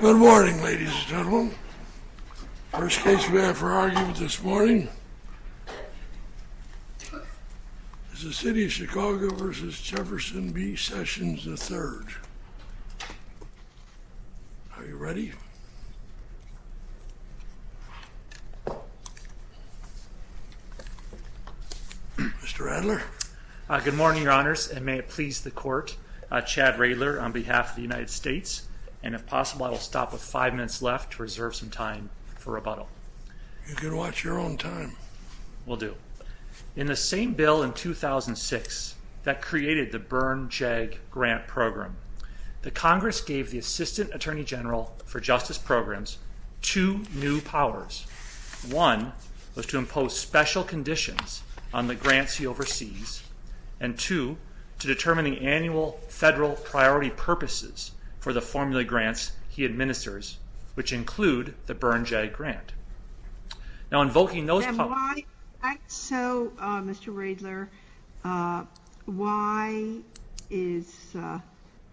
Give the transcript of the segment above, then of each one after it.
Good morning ladies and gentlemen. The first case we have for argument this morning is the City of Chicago v. Jefferson B. Sessions III. Are you ready? Mr. Adler. Good morning your honors and may it please the court. Chad Radler on I will stop with five minutes left to reserve some time for rebuttal. You can watch your own time. Will do. In the same bill in 2006 that created the Byrne JAG grant program, the Congress gave the Assistant Attorney General for Justice Programs two new powers. One was to impose special conditions on the grants he oversees and two to determine the annual federal priority purposes for the formula grants he administers, which include the Byrne JAG grant. Now invoking those powers... So Mr. Radler, why is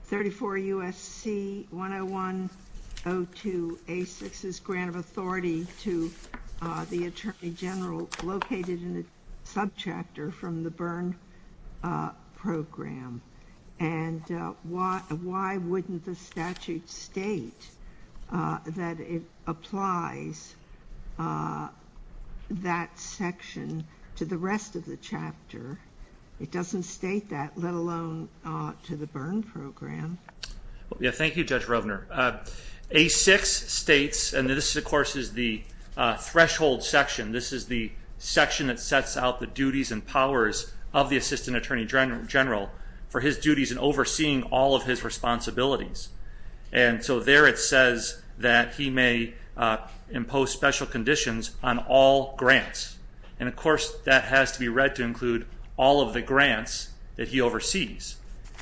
34 U.S.C. 101-02-A-6's grant of authority to the Attorney General located in the subchapter from the Byrne program? And why wouldn't the statute state that it applies that section to the rest of the chapter? It doesn't state that, let alone to the Byrne program. Thank you Judge Rovner. A-6 states, and this of course is the threshold section, this is the section that sets out the duties and powers of the Attorney General for his duties in overseeing all of his responsibilities. And so there it says that he may impose special conditions on all grants. And of course that has to be read to include all of the grants that he oversees.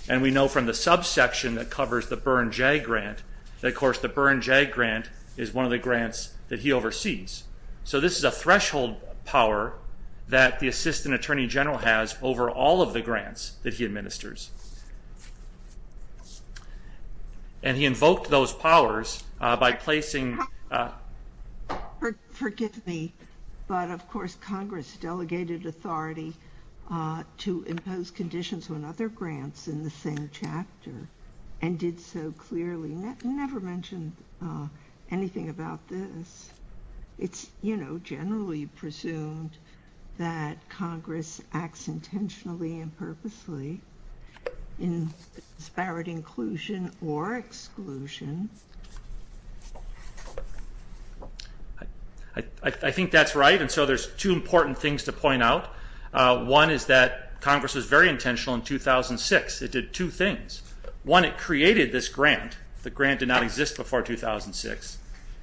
And we know from the subsection that covers the Byrne JAG grant, that of course the Byrne JAG grant is one of the grants that he oversees. So this is a threshold power that the Assistant Attorney General has over all of the grants that he administers. And he invoked those powers by placing... Forgive me, but of course Congress delegated authority to impose conditions on other grants in the same chapter and did so clearly. I never mentioned anything about this. It's generally presumed that Congress acts intentionally and purposely in disparate inclusion or exclusion. I think that's right. And so there's two important things to point out. One is that Congress was very intentional in 2006. It did two things. One, it created this grant. The grant did not exist before 2006.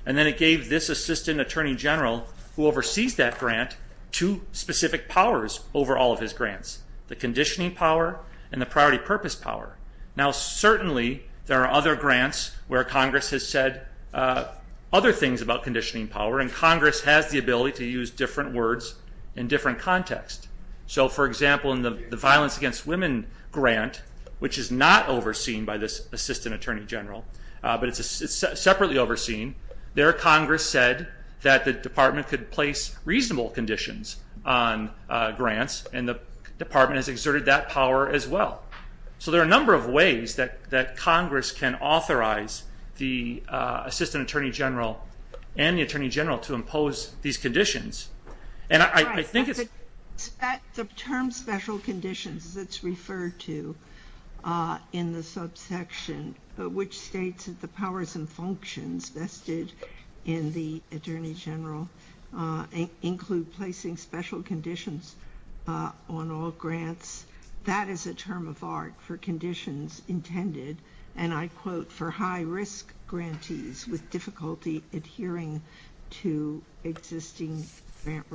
And then it gave this Assistant Attorney General who oversees that grant two specific powers over all of his grants. The conditioning power and the priority purpose power. Now certainly there are other grants where Congress has said other things about conditioning power and Congress has the ability to use different words in different contexts. So for example in the grant that's not overseen by this Assistant Attorney General, but it's separately overseen, there Congress said that the Department could place reasonable conditions on grants and the Department has exerted that power as well. So there are a number of ways that Congress can authorize the Assistant Attorney General and the Attorney General to impose these conditions. The term special conditions that's referred to in the subsection which states that the powers and functions vested in the Attorney General include placing special conditions on all grants. That is a term of art for conditions intended and I quote for high risk grantees with difficulty adhering to existing grant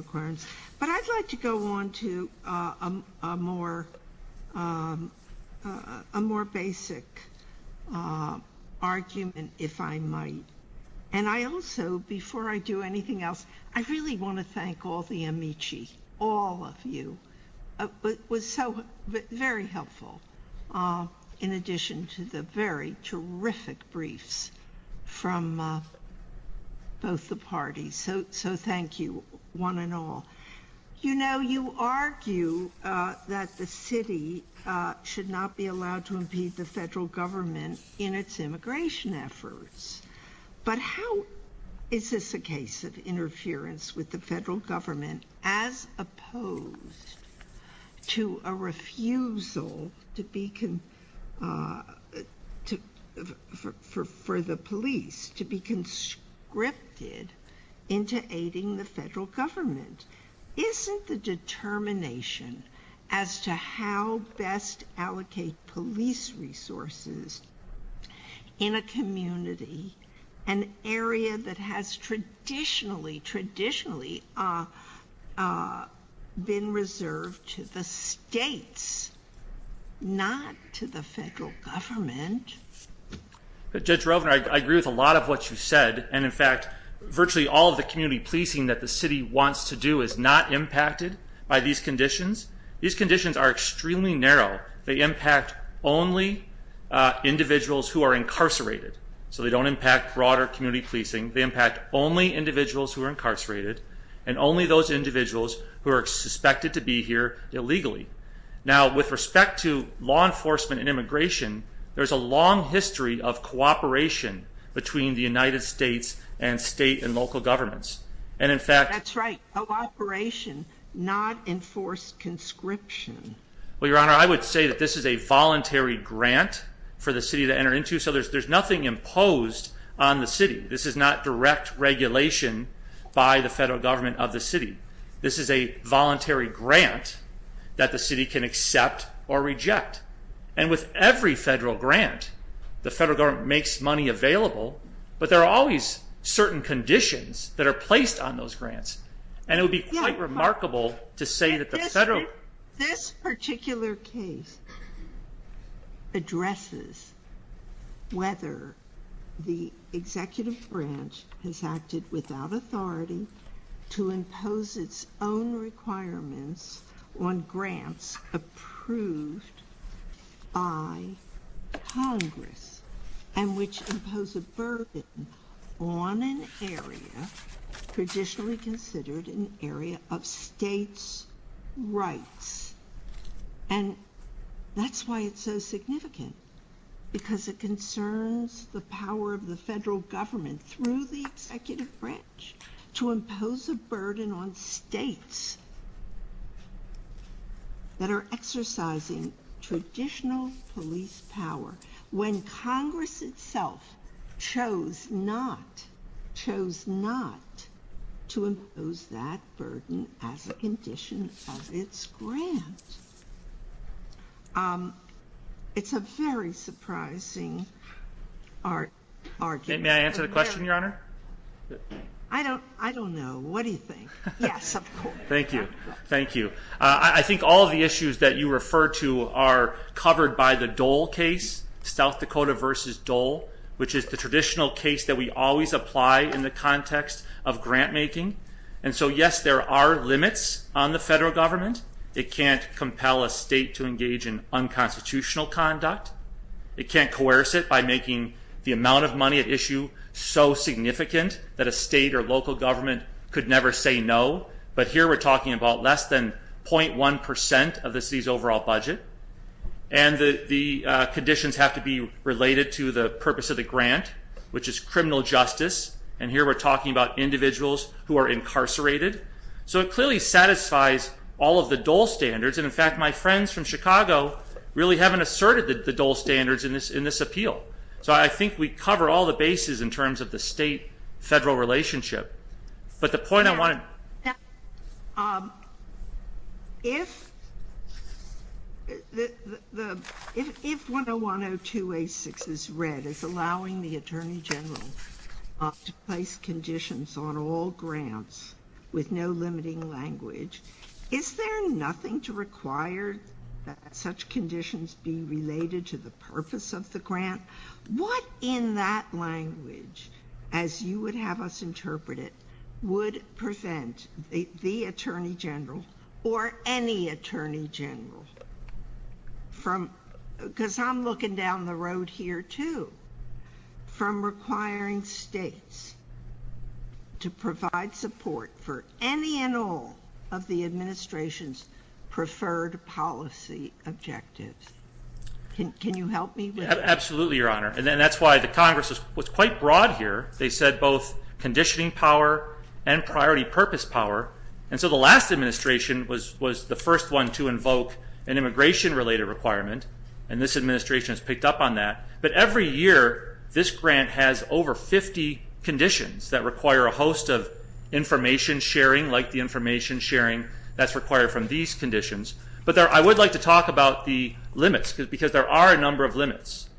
terms. You know you argue that the city should not be allowed to impede the federal government in its immigration efforts, but how is this a case of interference with the police to be conscripted into aiding the federal government? Isn't the determination as to how best allocate police resources in a community, an area that has traditionally, traditionally been reserved to the states, not to the federal government? Judge Rovner, I agree with a lot of what you said, and in fact, virtually all of the community policing that the city wants to do is not impacted by these conditions. These conditions are extremely narrow. They impact only individuals who are incarcerated, so they don't impact broader community policing. They impact only individuals who are incarcerated, and only those individuals who are suspected to be here illegally. Now, with respect to law enforcement and immigration, there's a long history of cooperation between the United States and state and local governments. That's right, cooperation, not enforced conscription. Well, Your Honor, I would say that this is a voluntary grant for the city to enter into, so there's nothing imposed on the city. This is not direct regulation by the federal government of the city. This is a voluntary grant that the city can accept or reject, and with every federal grant, the federal government makes money available, but there are always certain conditions that are placed on those grants. This particular case addresses whether the executive branch has acted without authority to impose its own requirements on grants approved by Congress, and which impose a burden on an area traditionally considered an area of states' rights, and that's why it's so significant, because it concerns the power of the federal government through the executive branch to impose a burden on states that are exercising traditional police power when Congress itself chose not to impose that burden as a condition of its grant. It's a very surprising argument. May I answer the question, Your Honor? I don't know. What do you think? Yes, of course. Thank you. Thank you. I think all of the issues that you refer to are covered by the Dole case, South Dakota versus Dole, which is the traditional case that we always apply in the context of grant making. And so, yes, there are limits on the federal government. It can't compel a state to engage in unconstitutional conduct. It can't coerce it by making the amount of money at issue so significant that a state or local government could never say no. But here we're talking about less than 0.1% of the state's overall budget, and the conditions have to be related to the purpose of the grant, which is criminal justice, and here we're talking about individuals who are incarcerated. So it clearly satisfies all of the Dole standards, and in fact, my friends from Chicago really haven't asserted the Dole standards in this appeal. So I think we cover all the bases in terms of the state-federal relationship. But the point I want to... If the... If 101-02-86 is read as allowing the Attorney General to place conditions on all grants with no limiting language, is there nothing to require that such conditions be related to the purpose of the grant? What in that language, as you would have us interpret it, would prevent the Attorney General or any Attorney General from... because I'm looking down the road here too... from requiring states to provide support for any and all of the administration's preferred policy objectives? Can you help me with that? Absolutely, Your Honor. And that's why the Congress was quite broad here. They said both conditioning power and priority purpose power, and so the last administration was the first one to invoke an immigration-related requirement, and this administration has picked up on that. But every year, this grant has over 50 conditions that require a host of information sharing, like the information sharing that's required from these conditions. But I would like to talk about the limits, because there are a number of limits.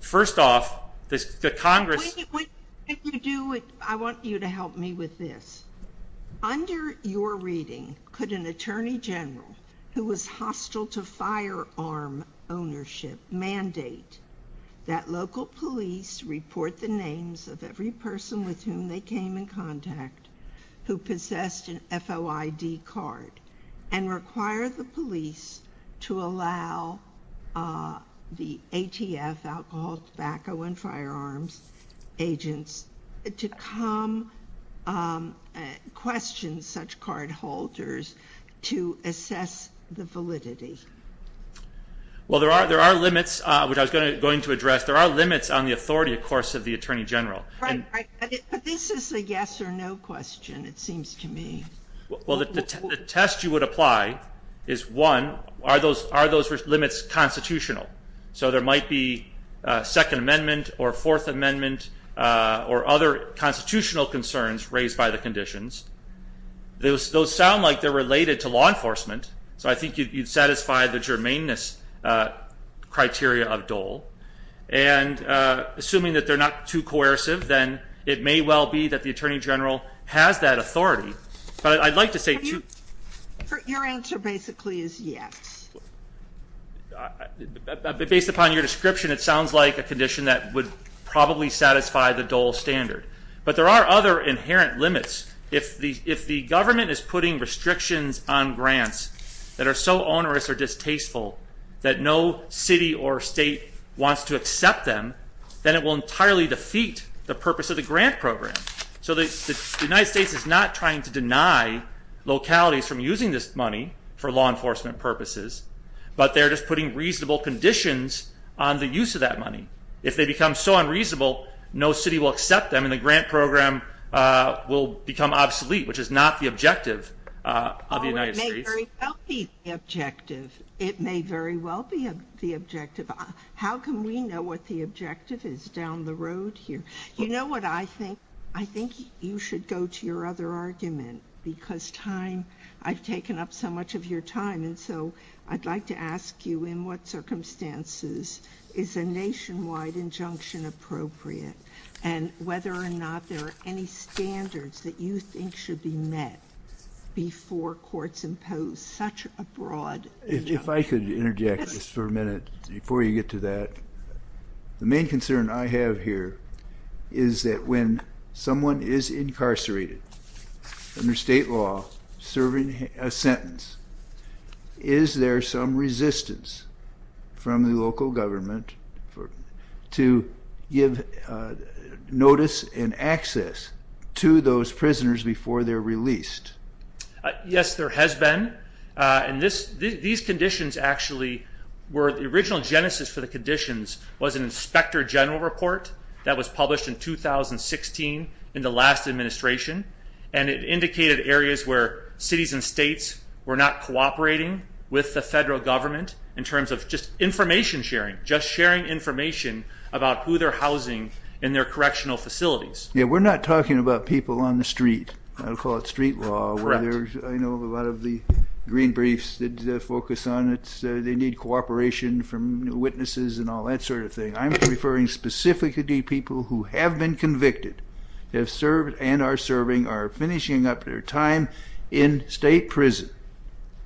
First off, the Congress... I want you to help me with this. to come question such cardholders to assess the validity? Well, there are limits, which I was going to address. There are limits on the authority, of course, of the Attorney General. Right, right. But this is a yes or no question, it seems to me. Well, the test you would apply is, one, are those limits constitutional? So there might be Second Amendment or Fourth Amendment or other constitutional concerns raised by the conditions. Those sound like they're related to law enforcement, so I think you'd satisfy the germaneness criteria of Dole. And assuming that they're not too coercive, then it may well be that the Attorney General has that authority. But I'd like to say... Your answer basically is yes. Based upon your description, it sounds like a condition that would probably satisfy the Dole standard. But there are other inherent limits. If the government is putting restrictions on grants that are so onerous or distasteful that no city or state wants to accept them, then it will entirely defeat the purpose of the grant program. So the United States is not trying to deny localities from using this money for law enforcement purposes, but they're just putting reasonable conditions on the use of that money. If they become so unreasonable, no city will accept them, and the grant program will become obsolete, which is not the objective of the United States. Oh, it may very well be the objective. It may very well be the objective. How can we know what the objective is down the road here? You know what? I think you should go to your other argument, because I've taken up so much of your time, and so I'd like to ask you in what circumstances is a nationwide injunction appropriate and whether or not there are any standards that you think should be met before courts impose such a broad injunction. If I could interject just for a minute before you get to that. The main concern I have here is that when someone is incarcerated under state law serving a sentence, is there some resistance from the local government to give notice and access to those prisoners before they're released? Yes, there has been. These conditions actually were the original genesis for the conditions was an inspector general report that was published in 2016 in the last administration, and it indicated areas where cities and states were not cooperating with the federal government in terms of just information sharing, just sharing information about who they're housing in their correctional facilities. Yeah, we're not talking about people on the street. I would call it street law. Correct. I know a lot of the green briefs that focus on it. They need cooperation from witnesses and all that sort of thing. I'm referring specifically to people who have been convicted, have served and are serving, are finishing up their time in state prison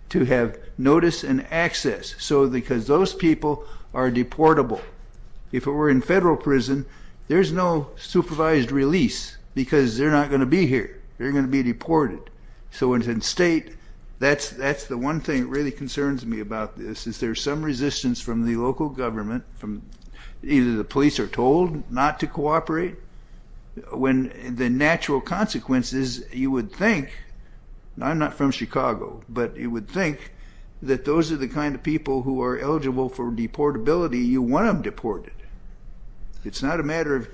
to have notice and access because those people are deportable. If it were in federal prison, there's no supervised release because they're not going to be here. They're going to be deported. So in state, that's the one thing that really concerns me about this, is there's some resistance from the local government, either the police are told not to cooperate, when the natural consequence is you would think, I'm not from Chicago, but you would think that those are the kind of people who are eligible for deportability. You want them deported. It's not a matter of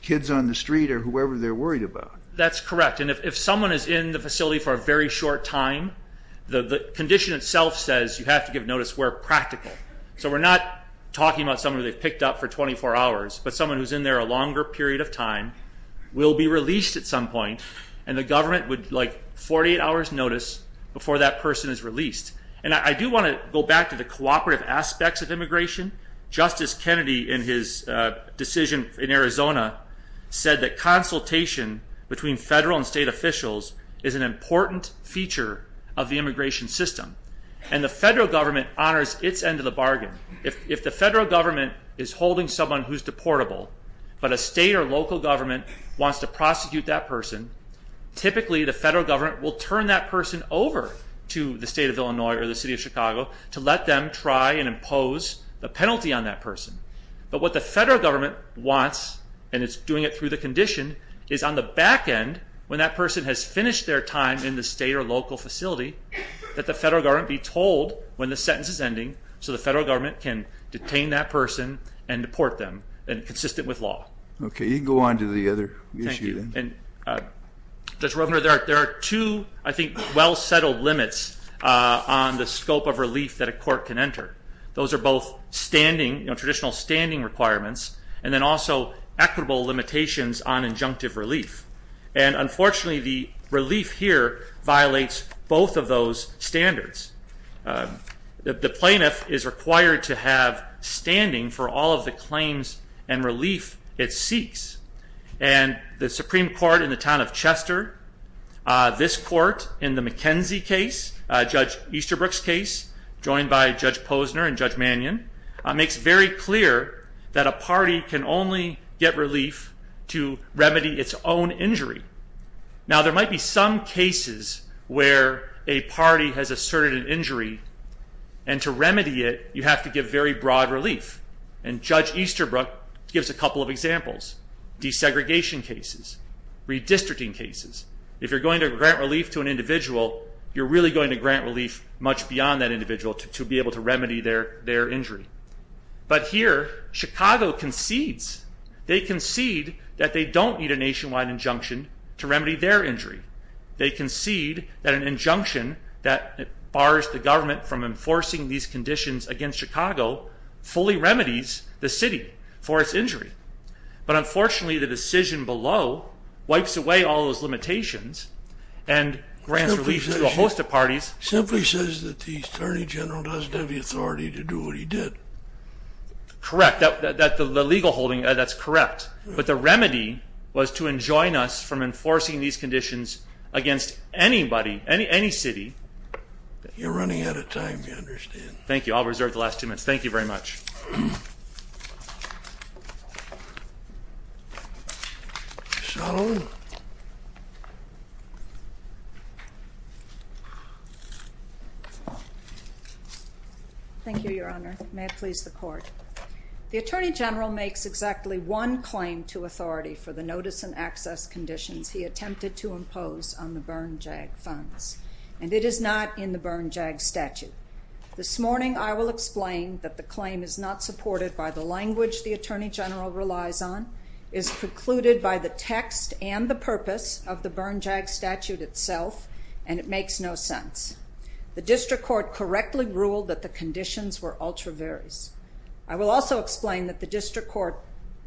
kids on the street or whoever they're worried about. That's correct, and if someone is in the facility for a very short time, the condition itself says you have to give notice where practical. So we're not talking about someone who they've picked up for 24 hours, but someone who's in there a longer period of time will be released at some point, and the government would like 48 hours notice before that person is released. And I do want to go back to the cooperative aspects of immigration. Justice Kennedy in his decision in Arizona said that consultation between federal and state officials is an important feature of the immigration system, and the federal government honors its end of the bargain. If the federal government is holding someone who's deportable, but a state or local government wants to prosecute that person, typically the federal government will turn that person over to the state of Illinois or the city of Chicago to let them try and impose the penalty on that person. But what the federal government wants, and it's doing it through the condition, is on the back end when that person has finished their time in the state or local facility that the federal government be told when the sentence is ending so the federal government can detain that person and deport them consistent with law. Okay, you can go on to the other issue then. There are two, I think, well-settled limits on the scope of relief that a court can enter. Those are both standing, traditional standing requirements, and then also equitable limitations on injunctive relief. And unfortunately, the relief here violates both of those standards. The plaintiff is required to have standing for all of the claims and relief it seeks, and the Supreme Court in the town of Chester, this court in the McKenzie case, Judge Easterbrook's case, joined by Judge Posner and Judge Mannion, makes very clear that a party can only get relief to remedy its own injury. Now, there might be some cases where a party has asserted an injury, and to remedy it you have to give very broad relief, and Judge Easterbrook gives a couple of examples. Desegregation cases, redistricting cases. If you're going to grant relief to an individual, you're really going to grant relief much beyond that individual to be able to remedy their injury. But here, Chicago concedes. They concede that they don't need a nationwide injunction to remedy their injury. They concede that an injunction that bars the government from enforcing these conditions against Chicago fully remedies the city for its injury. But unfortunately, the decision below wipes away all those limitations and grants relief to a host of parties. It simply says that the Attorney General doesn't have the authority to do what he did. Correct. The legal holding, that's correct. But the remedy was to enjoin us from enforcing these conditions against anybody, any city. You're running out of time, I understand. Thank you. I'll reserve the last two minutes. Thank you very much. Ms. Sullivan. Thank you, Your Honor. May it please the Court. The Attorney General makes exactly one claim to authority for the notice and access conditions he attempted to impose on the Bern JAG funds, and it is not in the Bern JAG statute. This morning I will explain that the claim is not supported by the language the Attorney General relies on, is precluded by the text and the purpose of the Bern JAG statute itself, and it makes no sense. The District Court correctly ruled that the conditions were ultra-various. I will also explain that the District Court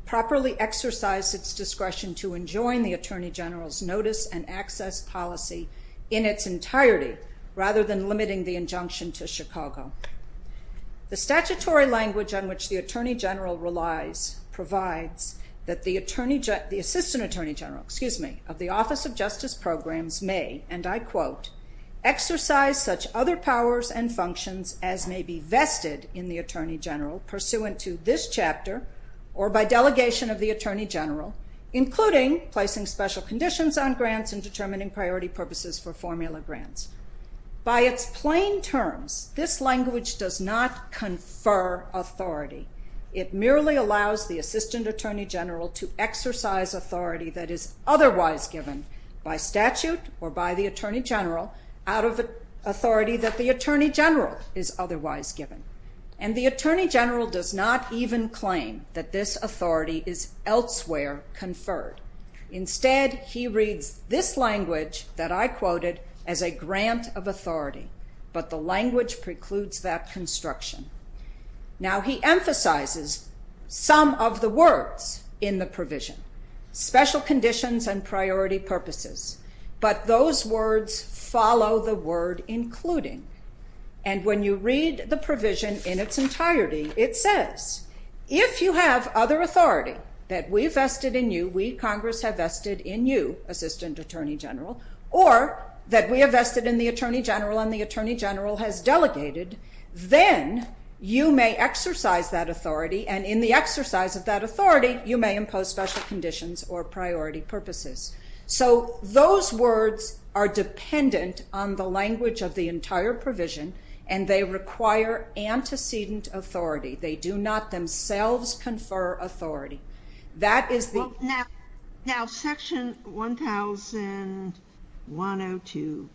properly exercised its discretion to enjoin the Attorney General's notice and access policy in its entirety rather than limiting the injunction to Chicago. The statutory language on which the Attorney General relies provides that the Assistant Attorney General of the Office of Justice Programs may, and I quote, exercise such other powers and functions as may be vested in the Attorney General pursuant to this chapter or by delegation of the Attorney General, including placing special conditions on grants and determining priority purposes for formula grants. By its plain terms, this language does not confer authority. It merely allows the Assistant Attorney General to exercise authority that is otherwise given by statute or by the Attorney General out of authority that the Attorney General is otherwise given. And the Attorney General does not even claim that this authority is elsewhere conferred. Instead, he reads this language that I quoted as a grant of authority, but the language precludes that construction. Now, he emphasizes some of the words in the provision, special conditions and priority purposes, but those words follow the word including. And when you read the provision in its entirety, it says, if you have other authority that we vested in you, we, Congress, have vested in you, Assistant Attorney General, or that we have vested in the Attorney General and the Attorney General has delegated, then you may exercise that authority and in the exercise of that authority you may impose special conditions or priority purposes. So those words are dependent on the language of the entire provision and they require antecedent authority. They do not themselves confer authority. Now, Section 1002,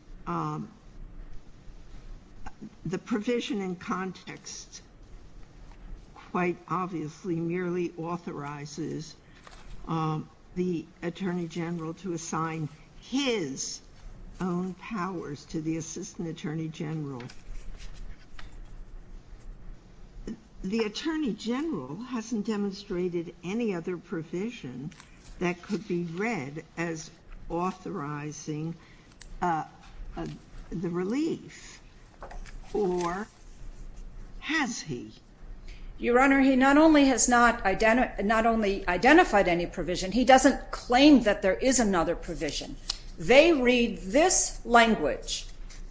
the provision in context quite obviously merely authorizes the Attorney General to assign his own powers to the Assistant Attorney General. The Attorney General hasn't demonstrated any other provision that could be read as authorizing the relief, or has he? Your Honor, he not only has not identified any provision, he doesn't claim that there is another provision. They read this language.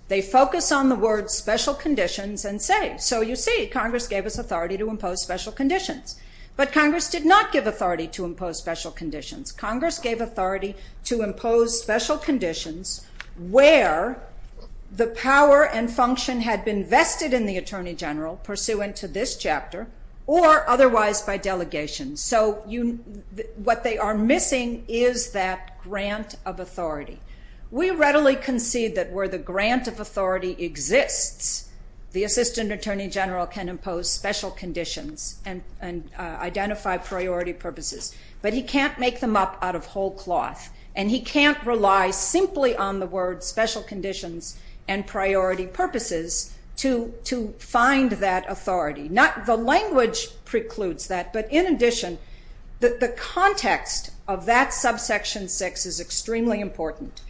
They focus on the word special conditions and say, so you see, Congress gave us authority to impose special conditions. But Congress did not give authority to impose special conditions. Congress gave authority to impose special conditions where the power and function had been vested in the Attorney General, pursuant to this chapter, or otherwise by delegation. So what they are missing is that grant of authority. We readily concede that where the grant of authority exists, the Assistant Attorney General can impose special conditions and identify priority purposes. But he can't make them up out of whole cloth, and he can't rely simply on the words special conditions and priority purposes to find that authority. The language precludes that, but in addition, the context of that subsection 6 is extremely important.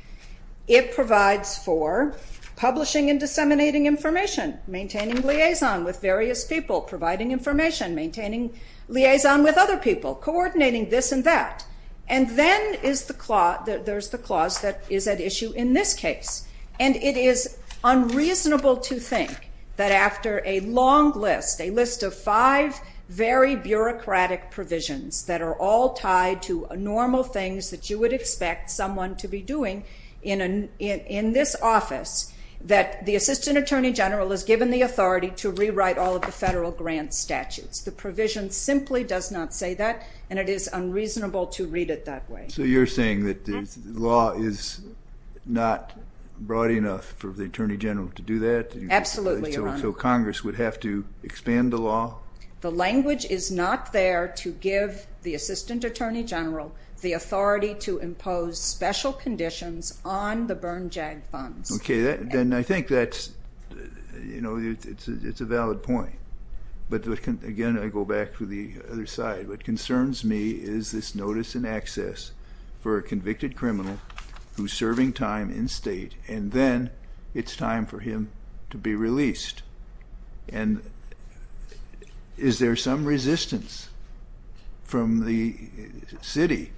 It provides for publishing and disseminating information, maintaining liaison with various people, providing information, maintaining liaison with other people, coordinating this and that. And then there's the clause that is at issue in this case. And it is unreasonable to think that after a long list, a list of five very bureaucratic provisions that are all tied to normal things that you would expect someone to be doing in this office, that the Assistant Attorney General is given the authority to rewrite all of the federal grant statutes. The provision simply does not say that, and it is unreasonable to read it that way. So you're saying that the law is not broad enough for the Attorney General to do that? Absolutely, Your Honor. So Congress would have to expand the law? The language is not there to give the Assistant Attorney General the authority to impose special conditions on the burn-jag funds. Okay, then I think that's a valid point. But again, I go back to the other side. What concerns me is this notice in excess for a convicted criminal who's serving time in state, and then it's time for him to be released. And is there some resistance from the city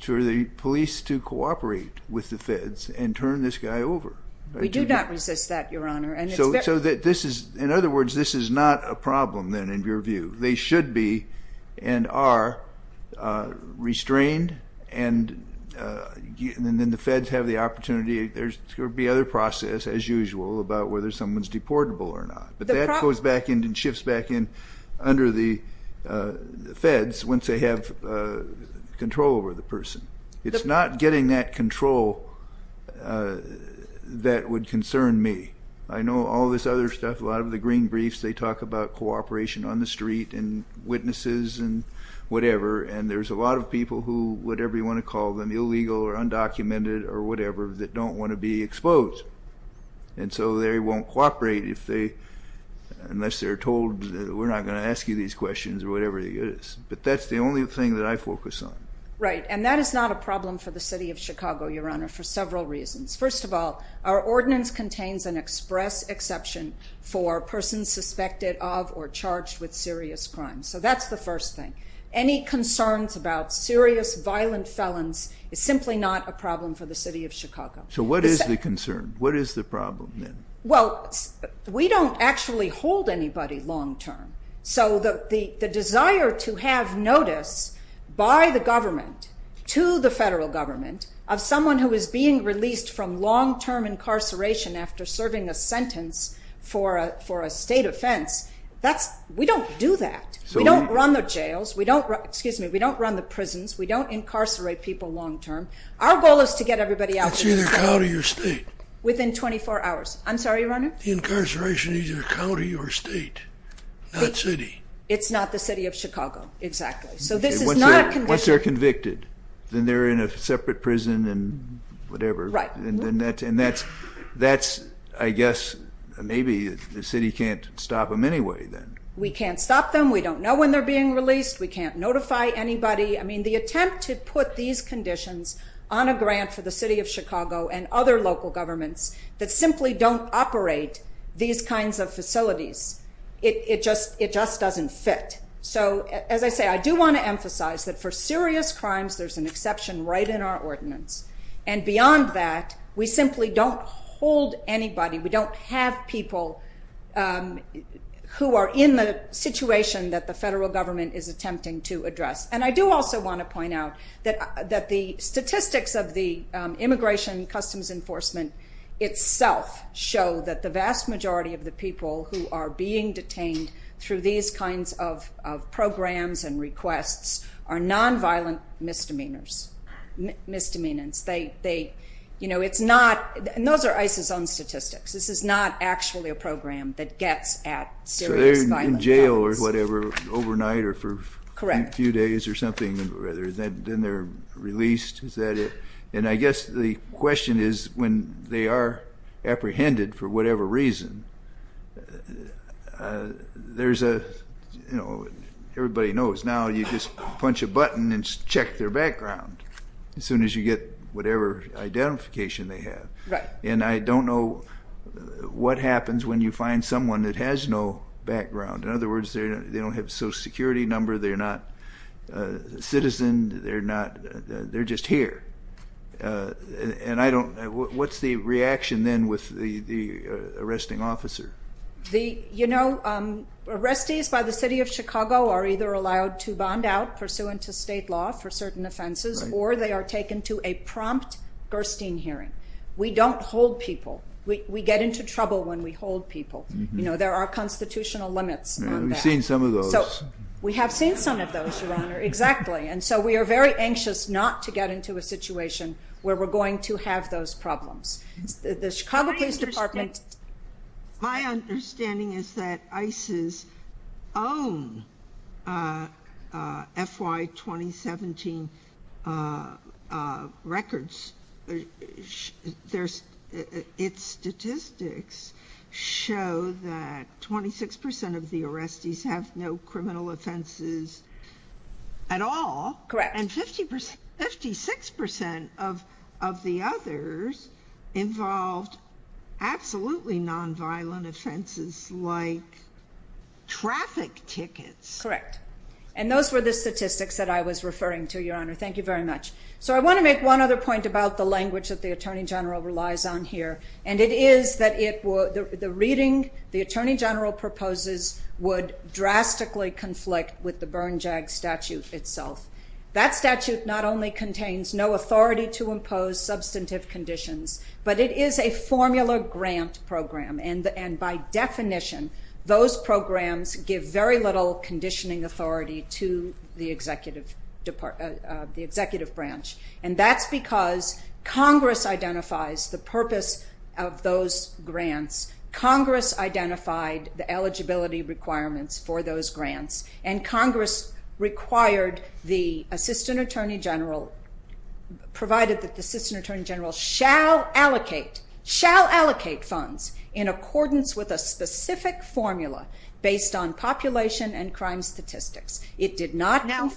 to the police to cooperate with the feds and turn this guy over? We do not resist that, Your Honor. In other words, this is not a problem, then, in your view. They should be and are restrained, and then the feds have the opportunity. There would be other process, as usual, about whether someone's deportable or not. But that goes back in and shifts back in under the feds once they have control over the person. It's not getting that control that would concern me. I know all this other stuff, a lot of the green briefs, they talk about cooperation on the street and witnesses and whatever, and there's a lot of people who, whatever you want to call them, illegal or undocumented or whatever, that don't want to be exposed. And so they won't cooperate unless they're told, we're not going to ask you these questions or whatever it is. But that's the only thing that I focus on. Right, and that is not a problem for the city of Chicago, Your Honor, for several reasons. First of all, our ordinance contains an express exception for persons suspected of or charged with serious crimes. So that's the first thing. Any concerns about serious, violent felons is simply not a problem for the city of Chicago. So what is the concern? What is the problem, then? Well, we don't actually hold anybody long term. So the desire to have notice by the government to the federal government of someone who is being released from long-term incarceration after serving a sentence for a state offense, we don't do that. We don't run the jails. We don't run the prisons. We don't incarcerate people long term. Our goal is to get everybody out of there. That's either county or state. Within 24 hours. I'm sorry, Your Honor? The incarceration is either county or state, not city. It's not the city of Chicago, exactly. So this is not a conviction. Then they're in a separate prison and whatever. Right. And that's, I guess, maybe the city can't stop them anyway, then. We can't stop them. We don't know when they're being released. We can't notify anybody. I mean, the attempt to put these conditions on a grant for the city of Chicago and other local governments that simply don't operate these kinds of facilities, it just doesn't fit. So, as I say, I do want to emphasize that for serious crimes, there's an exception right in our ordinance. And beyond that, we simply don't hold anybody. We don't have people who are in the situation that the federal government is attempting to address. And I do also want to point out that the statistics of the Immigration Customs Enforcement itself show that the vast majority of the people who are being detained through these kinds of programs and requests are nonviolent misdemeanors, misdemeanants. They, you know, it's not, and those are ICE's own statistics. This is not actually a program that gets at serious violent violence. So they're in jail or whatever, overnight or for a few days or something, and then they're released. Is that it? And I guess the question is when they are apprehended for whatever reason, there's a, you know, everybody knows now you just punch a button and check their background as soon as you get whatever identification they have. Right. And I don't know what happens when you find someone that has no background. In other words, they don't have a social security number, they're not a citizen, they're not, they're just here. And I don't, what's the reaction then with the arresting officer? You know, arrestees by the city of Chicago are either allowed to bond out pursuant to state law for certain offenses, or they are taken to a prompt Gerstein hearing. We don't hold people. We get into trouble when we hold people. You know, there are constitutional limits on that. We've seen some of those. We have seen some of those, Your Honor. Exactly. And so we are very anxious not to get into a situation where we're going to have those problems. The Chicago Police Department. My understanding is that ICE's own FY 2017 records, its statistics show that 26% of the arrestees have no criminal offenses at all. Correct. And 56% of the others involved absolutely nonviolent offenses like traffic tickets. Correct. And those were the statistics that I was referring to, Your Honor. Thank you very much. So I want to make one other point about the language that the Attorney General relies on here, and it is that the reading the Attorney General proposes would drastically conflict with the Bernjag statute itself. That statute not only contains no authority to impose substantive conditions, but it is a formula grant program, and by definition those programs give very little conditioning authority to the executive branch. And that's because Congress identifies the purpose of those grants. Congress identified the eligibility requirements for those grants, and Congress required the Assistant Attorney General, provided that the Assistant Attorney General shall allocate funds in accordance with a specific formula based on population and crime statistics. Now,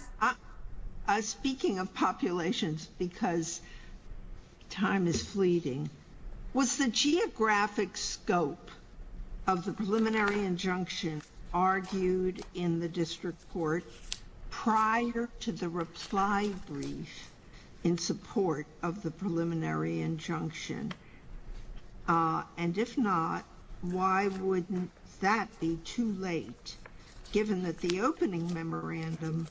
speaking of populations, because time is fleeting, was the geographic scope of the preliminary injunction argued in the district court prior to the reply brief in support of the preliminary injunction? And if not, why wouldn't that be too late, given that the opening memorandum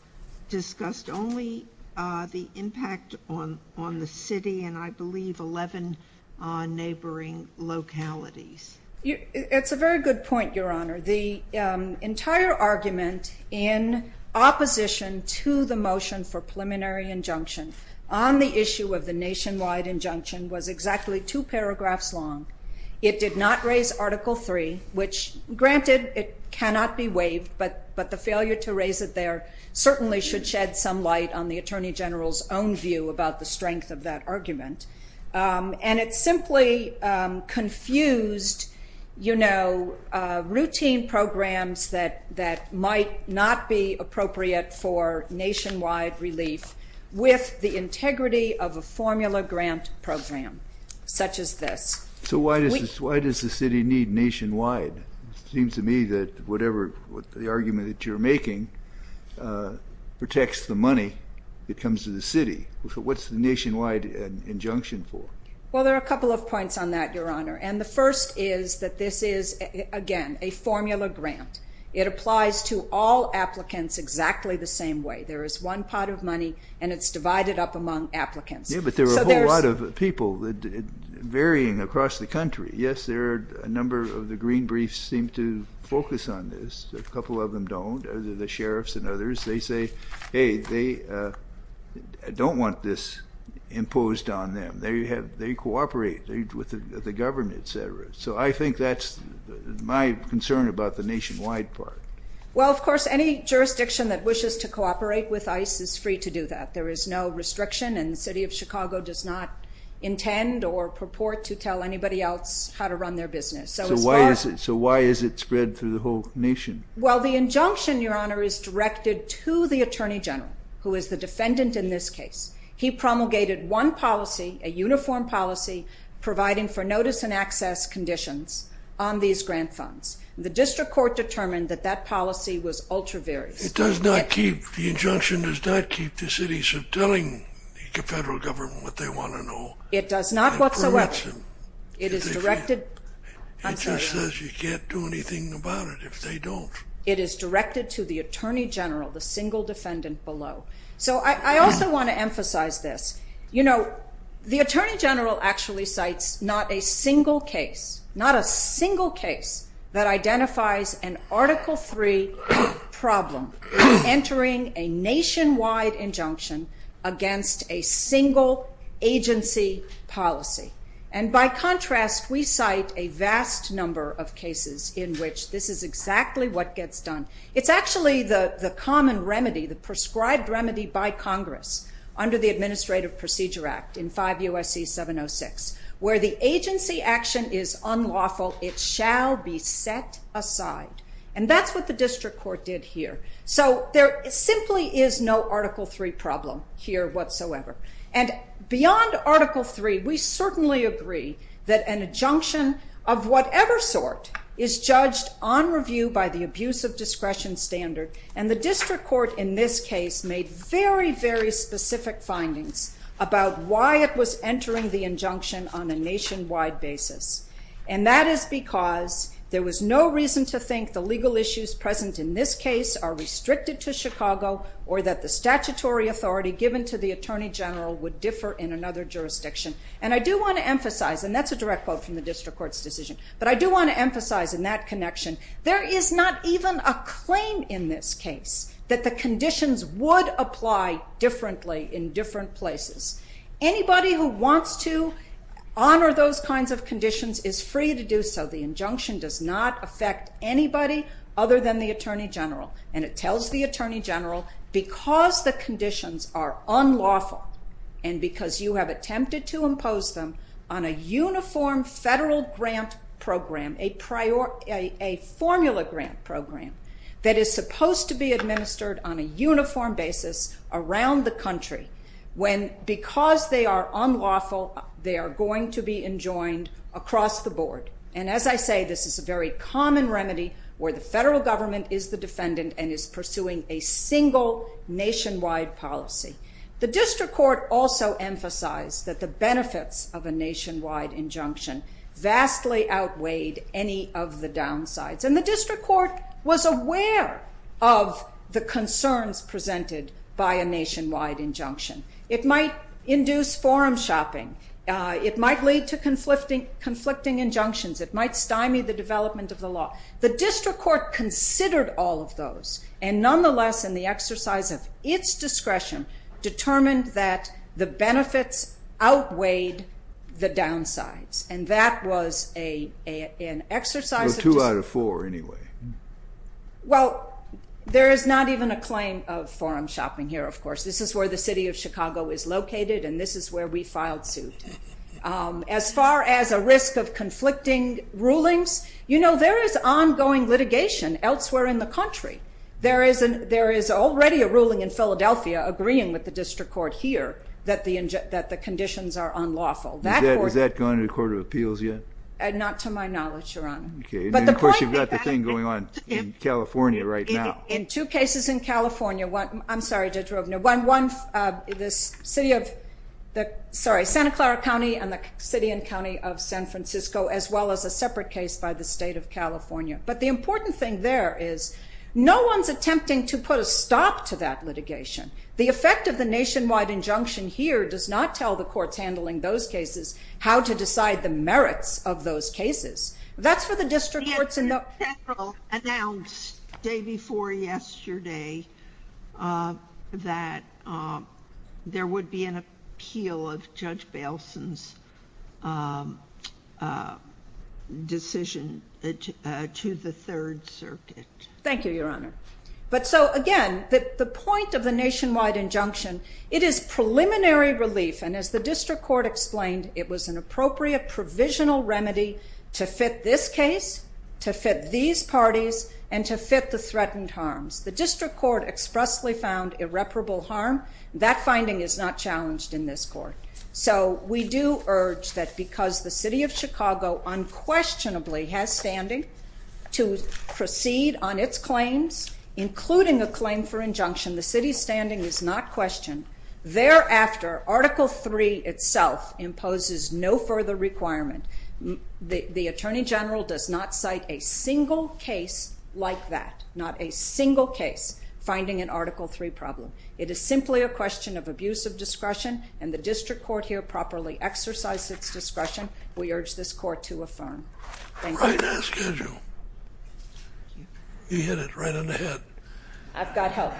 discussed only the impact on the city and I believe 11 neighboring localities? It's a very good point, Your Honor. The entire argument in opposition to the motion for preliminary injunction on the issue of the nationwide injunction was exactly two paragraphs long. It did not raise Article III, which granted it cannot be waived, but the failure to raise it there certainly should shed some light on the Attorney General's own view about the strength of that argument. And it simply confused routine programs that might not be appropriate for nationwide relief with the integrity of a formula grant program such as this. So why does the city need nationwide? It seems to me that whatever the argument that you're making protects the money that comes to the city. So what's the nationwide injunction for? Well, there are a couple of points on that, Your Honor. And the first is that this is, again, a formula grant. It applies to all applicants exactly the same way. There is one pot of money, and it's divided up among applicants. Yeah, but there are a whole lot of people varying across the country. Yes, a number of the green briefs seem to focus on this. A couple of them don't, the sheriffs and others. They say, hey, they don't want this imposed on them. They cooperate with the government, et cetera. So I think that's my concern about the nationwide part. Well, of course, any jurisdiction that wishes to cooperate with ICE is free to do that. There is no restriction, and the city of Chicago does not intend or purport to tell anybody else how to run their business. So why is it spread through the whole nation? Well, the injunction, Your Honor, is directed to the Attorney General, who is the defendant in this case. He promulgated one policy, a uniform policy, providing for notice and access conditions on these grant funds. The district court determined that that policy was ultra-varied. It does not keep, the injunction does not keep the city from telling the federal government what they want to know. It does not whatsoever. It is directed. It just says you can't do anything about it if they don't. It is directed to the Attorney General, the single defendant below. So I also want to emphasize this. You know, the Attorney General actually cites not a single case, not a single case that identifies an Article III problem as entering a nationwide injunction against a single agency policy. And by contrast, we cite a vast number of cases in which this is exactly what gets done. It's actually the common remedy, the prescribed remedy by Congress under the Administrative Procedure Act in 5 U.S.C. 706, where the agency action is unlawful. It shall be set aside. And that's what the district court did here. So there simply is no Article III problem here whatsoever. And beyond Article III, we certainly agree that an injunction of whatever sort is judged on review by the abuse of discretion standard. And the district court in this case made very, very specific findings about why it was entering the injunction on a nationwide basis. And that is because there was no reason to think the legal issues present in this case are restricted to Chicago or that the statutory authority given to the Attorney General would differ in another jurisdiction. And I do want to emphasize, and that's a direct quote from the district court's decision. But I do want to emphasize in that connection, there is not even a claim in this case that the conditions would apply differently in different places. Anybody who wants to honor those kinds of conditions is free to do so. The injunction does not affect anybody other than the Attorney General. And it tells the Attorney General, because the conditions are unlawful and because you have attempted to impose them on a uniform federal grant program, a formula grant program, that is supposed to be administered on a uniform basis around the country, when because they are unlawful, they are going to be enjoined across the board. And as I say, this is a very common remedy where the federal government is the defendant and is pursuing a single nationwide policy. The district court also emphasized that the benefits of a nationwide injunction vastly outweighed any of the downsides. And the district court was aware of the concerns presented by a nationwide injunction. It might induce forum shopping. It might lead to conflicting injunctions. It might stymie the development of the law. The district court considered all of those and, nonetheless, in the exercise of its discretion, determined that the benefits outweighed the downsides. And that was an exercise of discretion. Two out of four, anyway. Well, there is not even a claim of forum shopping here, of course. This is where the city of Chicago is located, and this is where we filed suit. As far as a risk of conflicting rulings, you know, there is ongoing litigation elsewhere in the country. There is already a ruling in Philadelphia agreeing with the district court here that the conditions are unlawful. Is that going to the Court of Appeals yet? Not to my knowledge, Your Honor. Okay. Of course, you've got the thing going on in California right now. In two cases in California, I'm sorry, Judge Roebner, the city of Santa Clara County and the city and county of San Francisco, as well as a separate case by the state of California. But the important thing there is no one's attempting to put a stop to that litigation. The effect of the nationwide injunction here does not tell the courts handling those cases how to decide the merits of those cases. That's for the district courts and the... The Attorney General announced the day before yesterday that there would be an appeal of Judge Bailson's decision to the Third Circuit. Thank you, Your Honor. But so, again, the point of the nationwide injunction, it is preliminary relief, and as the district court explained, it was an appropriate provisional remedy to fit this case, to fit these parties, and to fit the threatened harms. The district court expressly found irreparable harm. That finding is not challenged in this court. So we do urge that because the city of Chicago unquestionably has standing to proceed on its claims, including a claim for injunction, the city's standing is not questioned. Thereafter, Article III itself imposes no further requirement. The Attorney General does not cite a single case like that, not a single case finding an Article III problem. It is simply a question of abusive discretion, and the district court here properly exercised its discretion. We urge this court to affirm. Thank you. Right on schedule. You hit it right on the head. I've got help.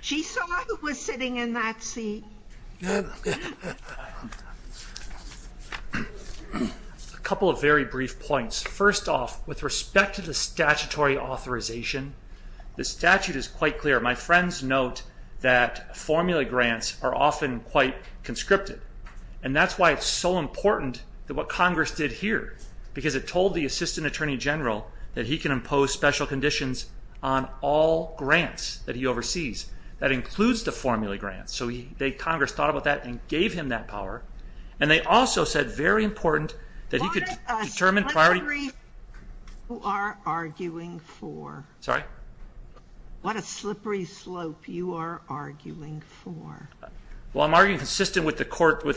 She saw who was sitting in that seat. A couple of very brief points. First off, with respect to the statutory authorization, the statute is quite clear. My friends note that formula grants are often quite conscripted, and that's why it's so important what Congress did here because it told the Assistant Attorney General that he can impose special conditions on all grants that he oversees. That includes the formula grants, so Congress thought about that and gave him that power, and they also said very important that he could determine priority... What are you arguing for? Sorry? What a slippery slope you are arguing for. Well, I'm arguing consistent with the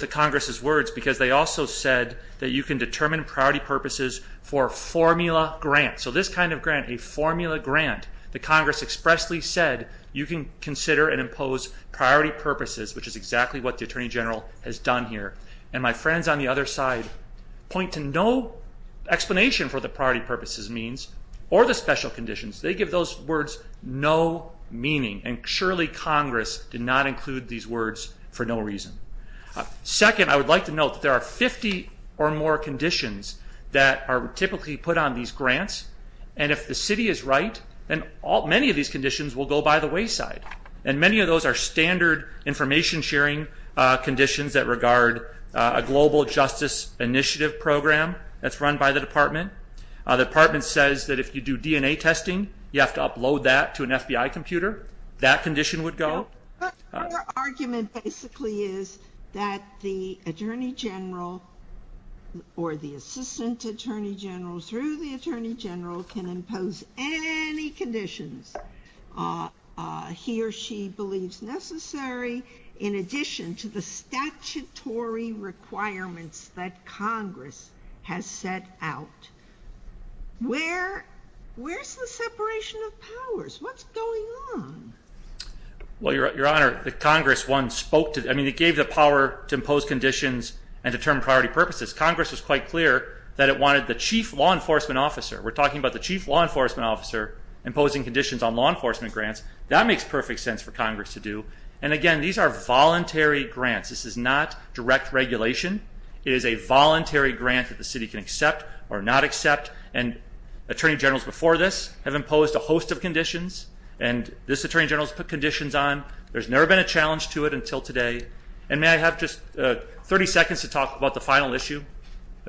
Congress' words because they also said that you can determine priority purposes for formula grants. So this kind of grant, a formula grant, the Congress expressly said you can consider and impose priority purposes, which is exactly what the Attorney General has done here. And my friends on the other side point to no explanation for the priority purposes means or the special conditions. They give those words no meaning, and surely Congress did not include these words for no reason. Second, I would like to note that there are 50 or more conditions that are typically put on these grants, and if the city is right, then many of these conditions will go by the wayside, and many of those are standard information-sharing conditions that regard a global justice initiative program that's run by the Department. The Department says that if you do DNA testing, you have to upload that to an FBI computer. That condition would go. But your argument basically is that the Attorney General or the Assistant Attorney General through the Attorney General can impose any conditions he or she believes necessary in addition to the statutory requirements that Congress has set out. Where's the separation of powers? What's going on? Well, Your Honor, the Congress, one, spoke to it. I mean, it gave the power to impose conditions and determine priority purposes. Congress was quite clear that it wanted the Chief Law Enforcement Officer. We're talking about the Chief Law Enforcement Officer imposing conditions on law enforcement grants. That makes perfect sense for Congress to do. And, again, these are voluntary grants. This is not direct regulation. It is a voluntary grant that the city can accept or not accept. And Attorney Generals before this have imposed a host of conditions, and this Attorney General has put conditions on. There's never been a challenge to it until today. And may I have just 30 seconds to talk about the final issue?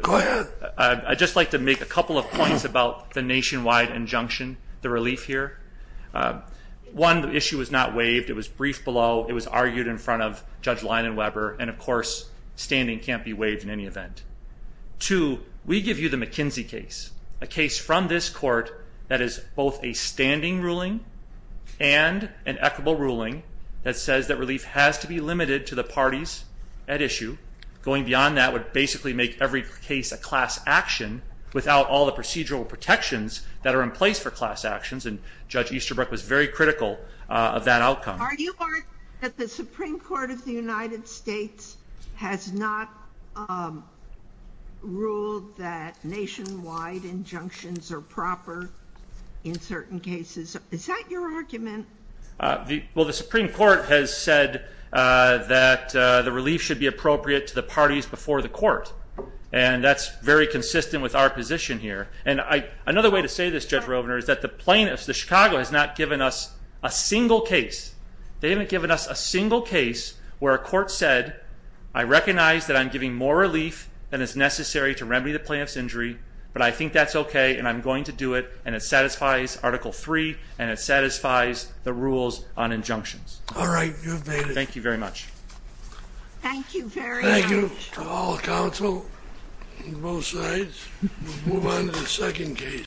Go ahead. I'd just like to make a couple of points about the nationwide injunction, the relief here. One, the issue was not waived. It was briefed below. It was argued in front of Judge Leinenweber, and, of course, standing can't be waived in any event. Two, we give you the McKinsey case, a case from this court that is both a standing ruling and an equitable ruling that says that relief has to be limited to the parties at issue. Going beyond that would basically make every case a class action without all the procedural protections that are in place for class actions, and Judge Easterbrook was very critical of that outcome. Are you arguing that the Supreme Court of the United States has not ruled that nationwide injunctions are proper in certain cases? Is that your argument? Well, the Supreme Court has said that the relief should be appropriate to the parties before the court, and that's very consistent with our position here. Another way to say this, Judge Rovner, is that the plaintiffs, the Chicago, has not given us a single case. They haven't given us a single case where a court said, I recognize that I'm giving more relief than is necessary to remedy the plaintiff's injury, but I think that's okay and I'm going to do it, and it satisfies Article III and it satisfies the rules on injunctions. All right. You've made it. Thank you very much. Thank you very much. Thank you to all the counsel on both sides. We'll move on to the second case.